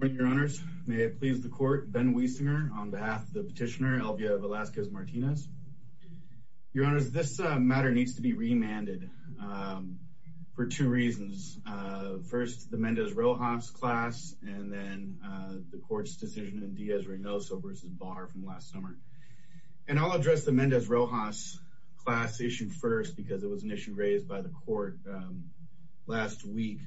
Good morning, your honors. May it please the court, Ben Wiesinger on behalf of the petitioner Elvia Velasquez-Martinez. Your honors, this matter needs to be remanded for two reasons. First, the Mendez-Rojas class and then the court's decision in Diaz-Reynoso v. Barr from last summer. And I'll address the Mendez-Rojas class issue first because it was an issue raised by the court last week.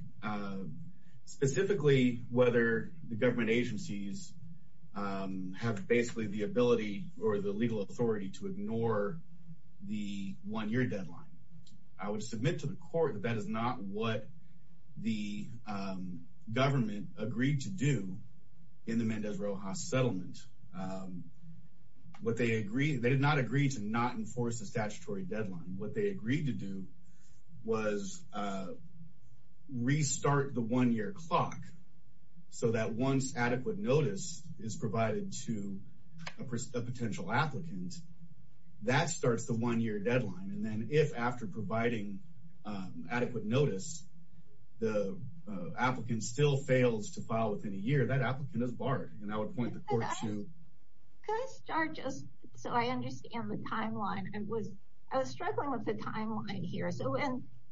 Specifically, whether the government agencies have basically the ability or the legal authority to ignore the one-year deadline. I would submit to the court that that is not what the government agreed to do in the Mendez-Rojas settlement. They did not agree to not enforce the statutory deadline. What they agreed to do was restart the one-year clock so that once adequate notice is provided to a potential applicant, that starts the one-year deadline. And then if, after providing adequate notice, the applicant still fails to file within a year, that applicant is barred. And I would point the court to... Can I start just so I understand the timeline? I was struggling with the timeline here. So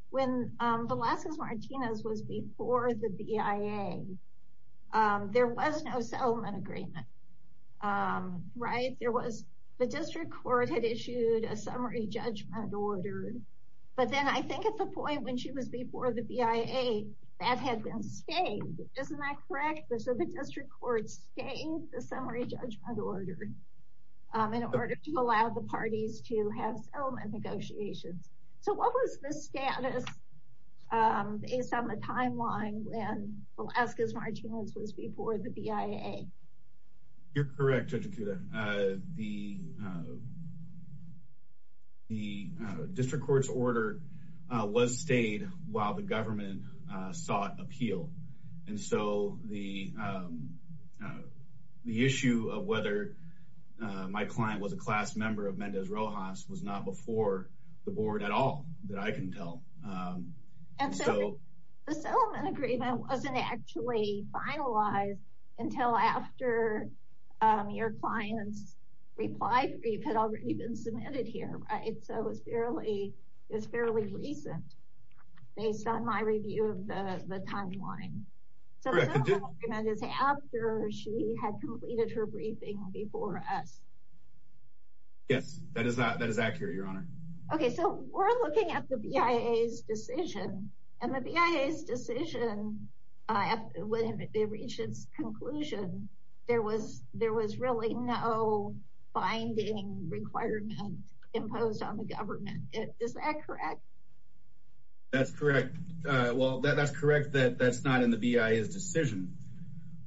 when Velasquez-Martinez was before the BIA, there was no settlement agreement, right? The district court had issued a summary judgment order. But then I think at the point when she was before the BIA, that had been stained, isn't that correct? So the district court stained the summary judgment order in order to allow the parties to have settlement negotiations. So what was the status based on the timeline when Velasquez-Martinez was before the BIA? You're correct, Judge Akuda. The district court's order was stayed while the government sought appeal. And so the issue of whether my client was a class member of Mendez-Rojas was not before the board at all, that I can tell. And so the settlement agreement wasn't actually finalized until after your client's reply brief had already been submitted here, right? So it was fairly recent based on my review of the timeline. Correct. So the settlement agreement is after she had completed her briefing before us. Yes, that is accurate, Your Honor. Okay, so we're looking at the BIA's decision. And the BIA's decision, when it reached its conclusion, there was really no binding requirement imposed on the government. Is that correct? That's correct. Well, that's correct that that's not in the BIA's decision.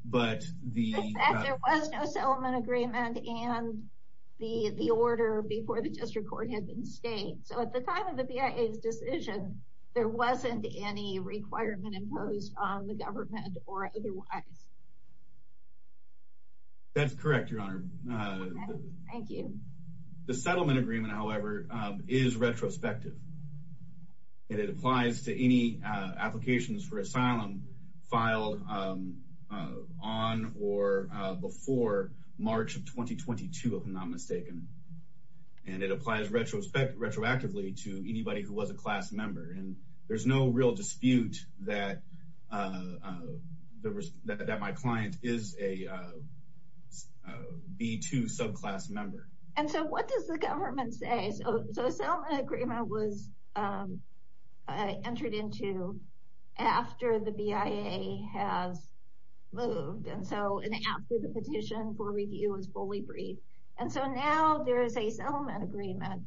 There was no settlement agreement and the order before the district court had been stayed. So at the time of the BIA's decision, there wasn't any requirement imposed on the government or otherwise. That's correct, Your Honor. Thank you. The settlement agreement, however, is retrospective. And it applies to any applications for asylum filed on or before March of 2022, if I'm not mistaken. And it applies retroactively to anybody who was a class member. And there's no real dispute that my client is a B2 subclass member. And so what does the government say? Okay, so a settlement agreement was entered into after the BIA has moved. And so after the petition for review was fully briefed. And so now there is a settlement agreement.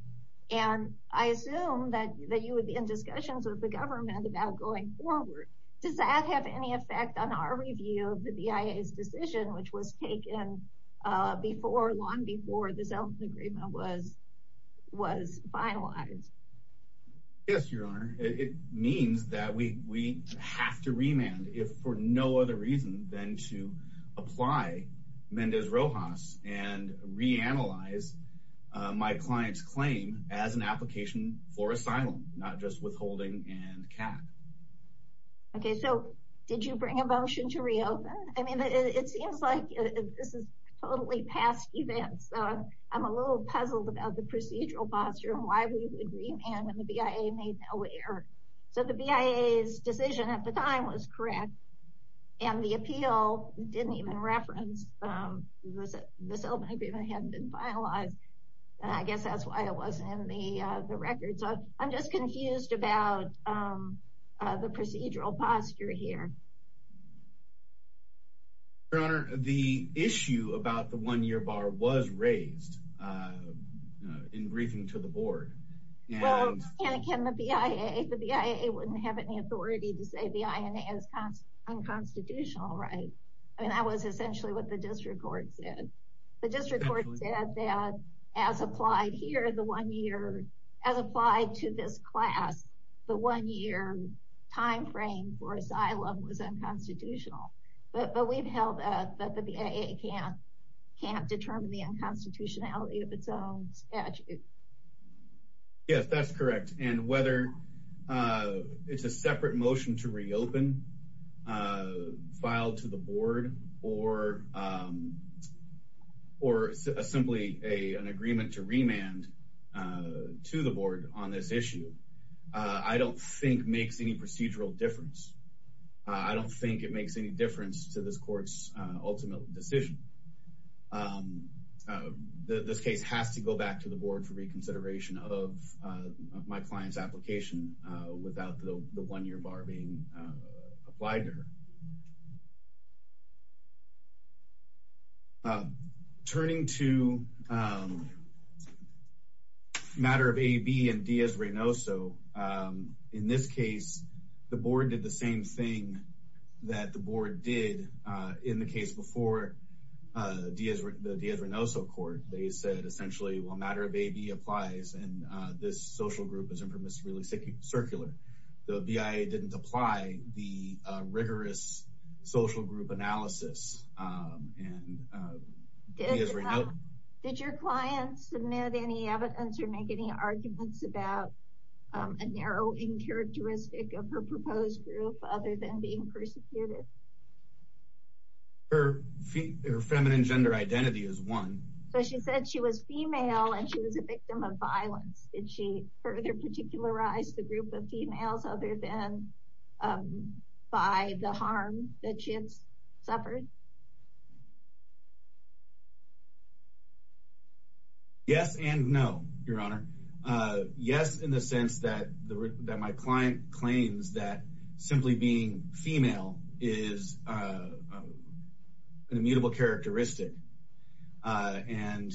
And I assume that you would be in discussions with the government about going forward. Does that have any effect on our review of the BIA's decision, which was taken long before the settlement agreement was finalized? Yes, Your Honor. It means that we have to remand if for no other reason than to apply Mendez Rojas and reanalyze my client's claim as an application for asylum. Not just withholding and a cap. Okay, so did you bring a motion to reopen? I mean, it seems like this is totally past events. I'm a little puzzled about the procedural posture and why we would remand when the BIA made no error. So the BIA's decision at the time was correct. And the appeal didn't even reference the settlement agreement had been finalized. And I guess that's why it wasn't in the records. So I'm just confused about the procedural posture here. Your Honor, the issue about the one-year bar was raised in briefing to the board. Well, can the BIA, the BIA wouldn't have any authority to say the INA is unconstitutional, right? I mean, that was essentially what the district court said. The district court said that as applied here, the one-year, as applied to this class, the one-year timeframe for asylum was unconstitutional. But we've held that the BIA can't determine the unconstitutionality of its own statute. Yes, that's correct. And whether it's a separate motion to reopen, filed to the board, or simply an agreement to remand to the board on this issue, I don't think makes any procedural difference. I don't think it makes any difference to this court's ultimate decision. This case has to go back to the board for reconsideration of my client's application without the one-year bar being applied to her. Turning to matter of AB and Diaz-Reynoso, in this case, the board did the same thing that the board did in the case before the Diaz-Reynoso court. They said, essentially, well, matter of AB applies, and this social group is infamously circular. The BIA didn't apply the rigorous social group analysis, and Diaz-Reynoso— Did your client submit any evidence or make any arguments about a narrowing characteristic of her proposed group other than being persecuted? Her feminine gender identity is one. So she said she was female, and she was a victim of violence. Did she further particularize the group of females other than by the harm that she had suffered? Yes and no, Your Honor. Yes, in the sense that my client claims that simply being female is an immutable characteristic. And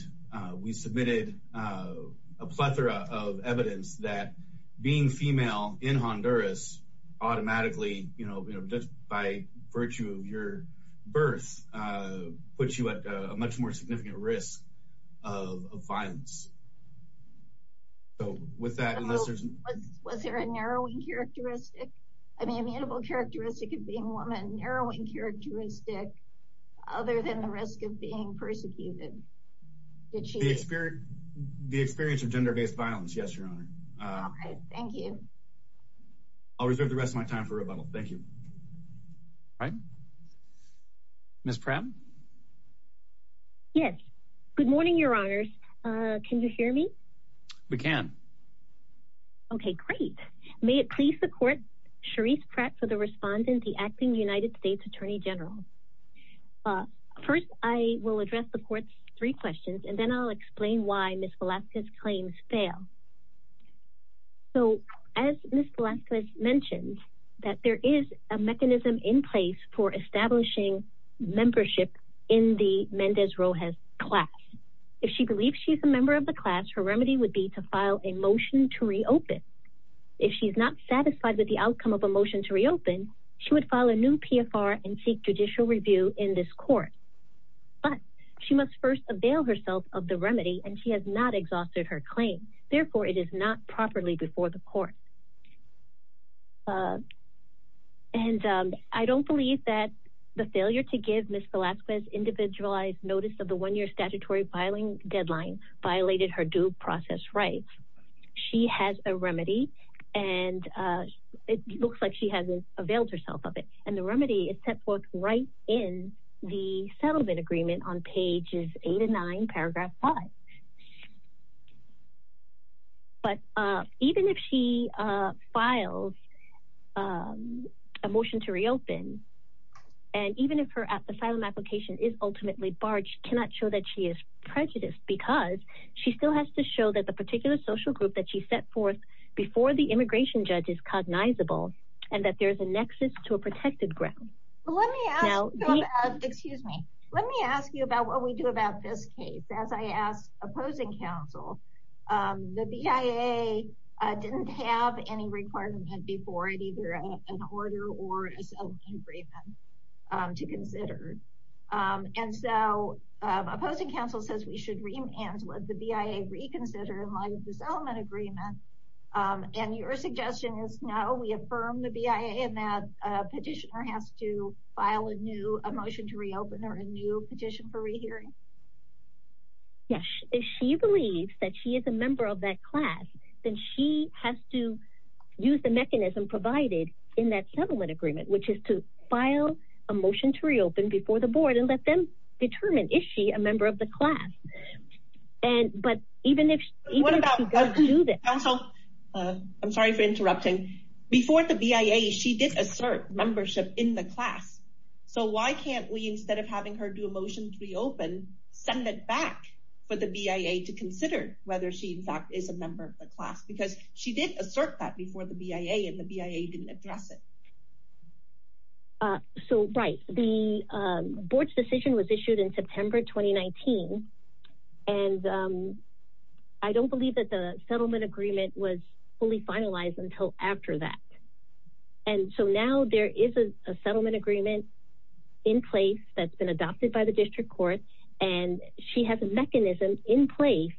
we submitted a plethora of evidence that being female in Honduras automatically, just by virtue of your birth, puts you at a much more significant risk of violence. So, with that— Was there a narrowing characteristic—I mean, immutable characteristic of being a woman, narrowing characteristic other than the risk of being persecuted? The experience of gender-based violence, yes, Your Honor. Okay, thank you. I'll reserve the rest of my time for rebuttal. Thank you. All right. Ms. Prem? Yes. Good morning, Your Honors. Can you hear me? We can. Okay, great. May it please the Court, Sharice Pratt for the respondent, the acting United States Attorney General. First, I will address the Court's three questions, and then I'll explain why Ms. Velazquez's claims fail. So, as Ms. Velazquez mentioned, that there is a mechanism in place for establishing membership in the Mendez-Rojas class. If she believes she's a member of the class, her remedy would be to file a motion to reopen. If she's not satisfied with the outcome of a motion to reopen, she would file a new PFR and seek judicial review in this Court. But she must first avail herself of the remedy, and she has not exhausted her claim. Therefore, it is not properly before the Court. And I don't believe that the failure to give Ms. Velazquez individualized notice of the one-year statutory filing deadline violated her due process rights. She has a remedy, and it looks like she has availed herself of it. And the remedy is set forth right in the settlement agreement on pages 8 and 9, paragraph 5. But even if she files a motion to reopen, and even if her asylum application is ultimately barred, she cannot show that she is prejudiced. Because she still has to show that the particular social group that she set forth before the immigration judge is cognizable, and that there is a nexus to a protected ground. Let me ask you about what we do about this case. As I asked opposing counsel, the BIA didn't have any requirement before it, either an order or a settlement agreement to consider. And so opposing counsel says we should remand what the BIA reconsidered in light of the settlement agreement. And your suggestion is no, we affirm the BIA, and that petitioner has to file a new motion to reopen or a new petition for rehearing? Yes, if she believes that she is a member of that class, then she has to use the mechanism provided in that settlement agreement, which is to file a motion to reopen before the board and let them determine if she is a member of the class. I'm sorry for interrupting. Before the BIA, she did assert membership in the class. So why can't we, instead of having her do a motion to reopen, send it back for the BIA to consider whether she in fact is a member of the class? Because she did assert that before the BIA, and the BIA didn't address it. So, right. The board's decision was issued in September 2019, and I don't believe that the settlement agreement was fully finalized until after that. And so now there is a settlement agreement in place that's been adopted by the district court, and she has a mechanism in place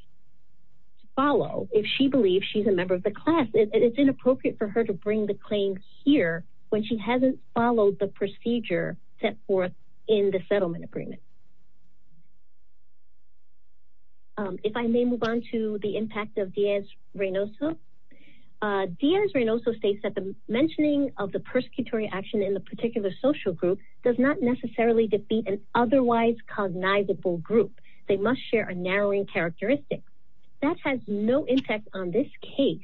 to follow if she believes she's a member of the class. It's inappropriate for her to bring the claim here when she hasn't followed the procedure set forth in the settlement agreement. If I may move on to the impact of Diaz-Reynoso. Diaz-Reynoso states that the mentioning of the persecutory action in the particular social group does not necessarily defeat an otherwise cognizable group. They must share a narrowing characteristic. That has no impact on this case,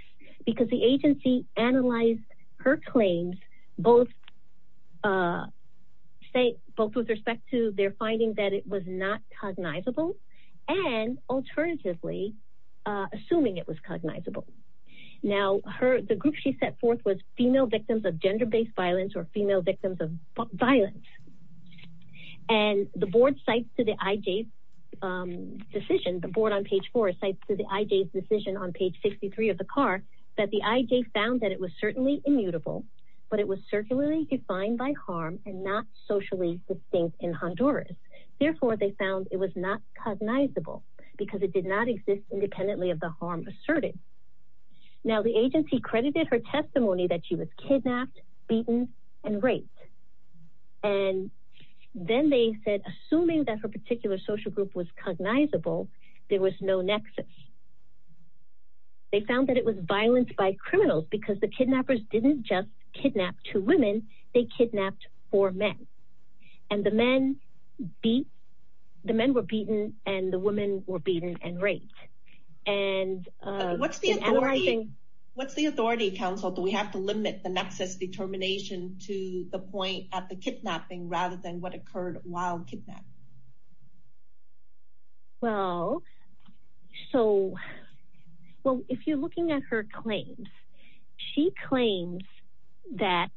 because the agency analyzed her claims, both with respect to their finding that it was not cognizable, and alternatively, assuming it was cognizable. Now, the group she set forth was female victims of gender-based violence or female victims of violence. And the board cites to the IJ's decision, the board on page four cites to the IJ's decision on page 63 of the CAR, that the IJ found that it was certainly immutable, but it was circularly defined by harm and not socially distinct in Honduras. Therefore, they found it was not cognizable, because it did not exist independently of the harm asserted. Now, the agency credited her testimony that she was kidnapped, beaten, and raped. And then they said, assuming that her particular social group was cognizable, there was no nexus. They found that it was violence by criminals, because the kidnappers didn't just kidnap two women, they kidnapped four men. And the men were beaten, and the women were beaten and raped. What's the authority, counsel, do we have to limit the nexus determination to the point at the kidnapping, rather than what occurred while kidnapped? Well, so, well, if you're looking at her claims, she claims that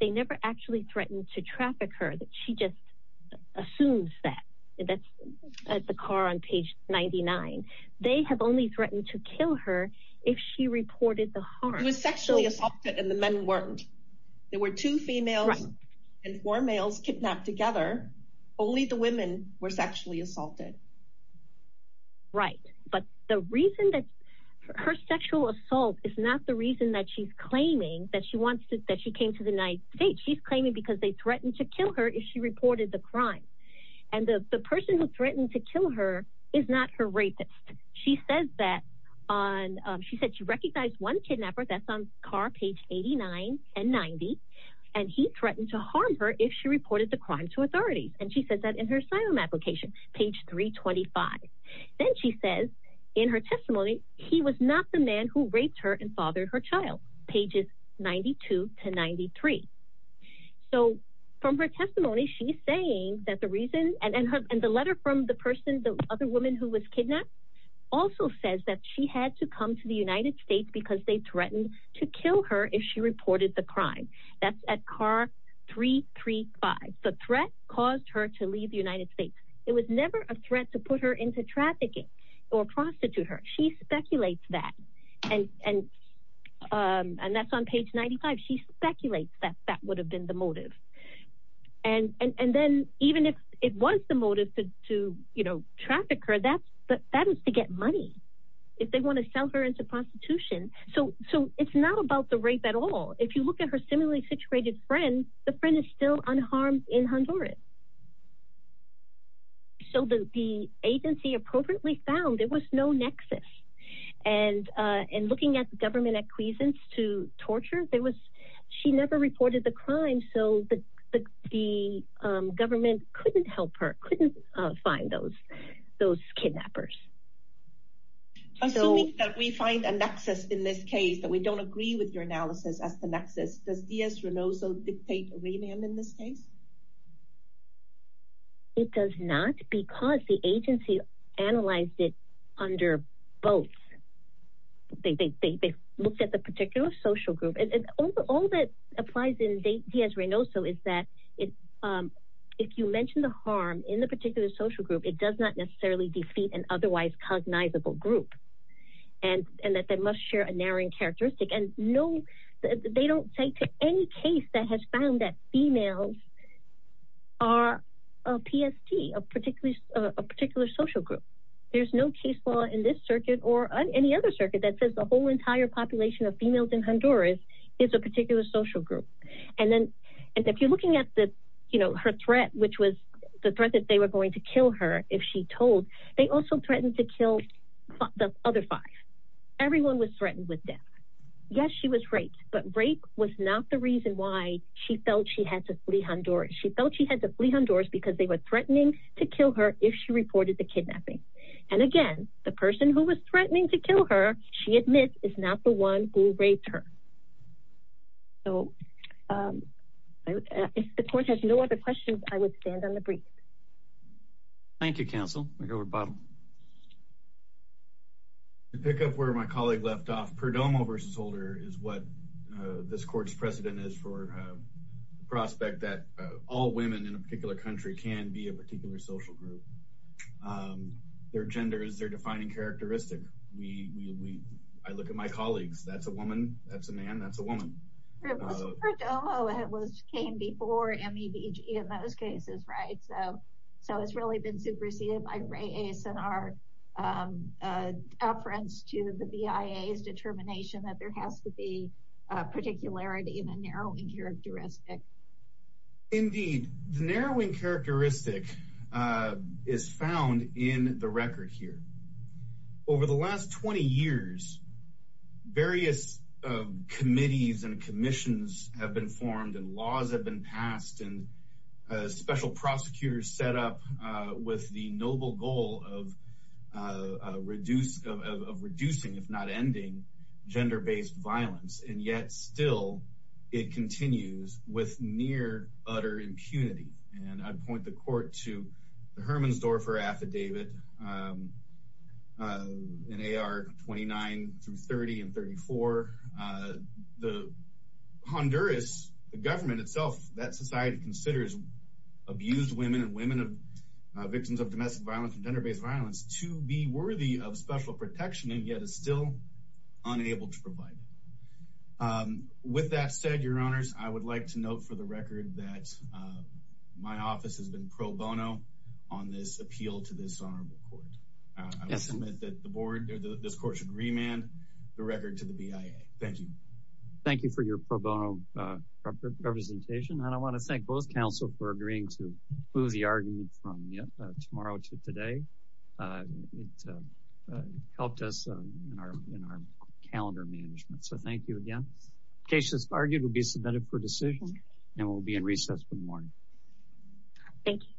they never actually threatened to traffic her, that she just assumes that. That's at the CAR on page 99. They have only threatened to kill her if she reported the harm. It was sexually assaulted and the men weren't. There were two females and four males kidnapped together. Only the women were sexually assaulted. Right, but the reason that her sexual assault is not the reason that she's claiming that she came to the United States. She's claiming because they threatened to kill her if she reported the crime. And the person who threatened to kill her is not her rapist. She says that on, she said she recognized one kidnapper, that's on CAR page 89 and 90, and he threatened to harm her if she reported the crime to authorities. And she says that in her asylum application, page 325. Then she says, in her testimony, he was not the man who raped her and fathered her child, pages 92 to 93. So from her testimony, she's saying that the reason, and the letter from the person, the other woman who was kidnapped, also says that she had to come to the United States because they threatened to kill her if she reported the crime. That's at CAR 335. The threat caused her to leave the United States. It was never a threat to put her into trafficking or prostitute her. She speculates that. And that's on page 95. She speculates that that would have been the motive. And then even if it was the motive to traffic her, that is to get money if they want to sell her into prostitution. So it's not about the rape at all. If you look at her similarly situated friend, the friend is still unharmed in Honduras. So the agency appropriately found there was no nexus. And looking at the government acquiescence to torture, she never reported the crime, so the government couldn't help her, couldn't find those kidnappers. Assuming that we find a nexus in this case, that we don't agree with your analysis as the nexus, does Diaz-Renoso dictate a remand in this case? It does not because the agency analyzed it under both. They looked at the particular social group. All that applies in Diaz-Renoso is that if you mention the harm in the particular social group, it does not necessarily defeat an otherwise cognizable group. And that they must share a narrowing characteristic. They don't cite any case that has found that females are a PST, a particular social group. There's no case law in this circuit or any other circuit that says the whole entire population of females in Honduras is a particular social group. And if you're looking at her threat, which was the threat that they were going to kill her if she told, they also threatened to kill the other five. Everyone was threatened with death. Yes, she was raped, but rape was not the reason why she felt she had to flee Honduras. She felt she had to flee Honduras because they were threatening to kill her if she reported the kidnapping. And again, the person who was threatening to kill her, she admits, is not the one who raped her. So, if the court has no other questions, I would stand on the brief. Thank you, counsel. We'll go to Bob. To pick up where my colleague left off, Perdomo versus Holder is what this court's precedent is for the prospect that all women in a particular country can be a particular social group. Their gender is their defining characteristic. I look at my colleagues. That's a woman. That's a woman. It was Perdomo that came before MEBG in those cases, right? So, it's really been superseded by Ray Ace and our reference to the BIA's determination that there has to be particularity in a narrowing characteristic. Indeed. The narrowing characteristic is found in the record here. Over the last 20 years, various committees and commissions have been formed and laws have been passed and special prosecutors set up with the noble goal of reducing, if not ending, gender-based violence. And yet, still, it continues with near-utter impunity. And I'd point the court to the Herman's-Dorfer affidavit in AR 29 through 30 and 34. The Honduras government itself, that society considers abused women and women of victims of domestic violence and gender-based violence to be worthy of special protection and yet is still unable to provide it. With that said, your honors, I would like to note for the record that my office has been pro bono on this appeal to this honorable court. I will submit that this court should remand the record to the BIA. Thank you. Thank you for your pro bono representation. And I want to thank both counsel for agreeing to move the argument from tomorrow to today. It helped us in our calendar management. So thank you again. The case that's argued will be submitted for decision and will be in recess for the morning. Thank you.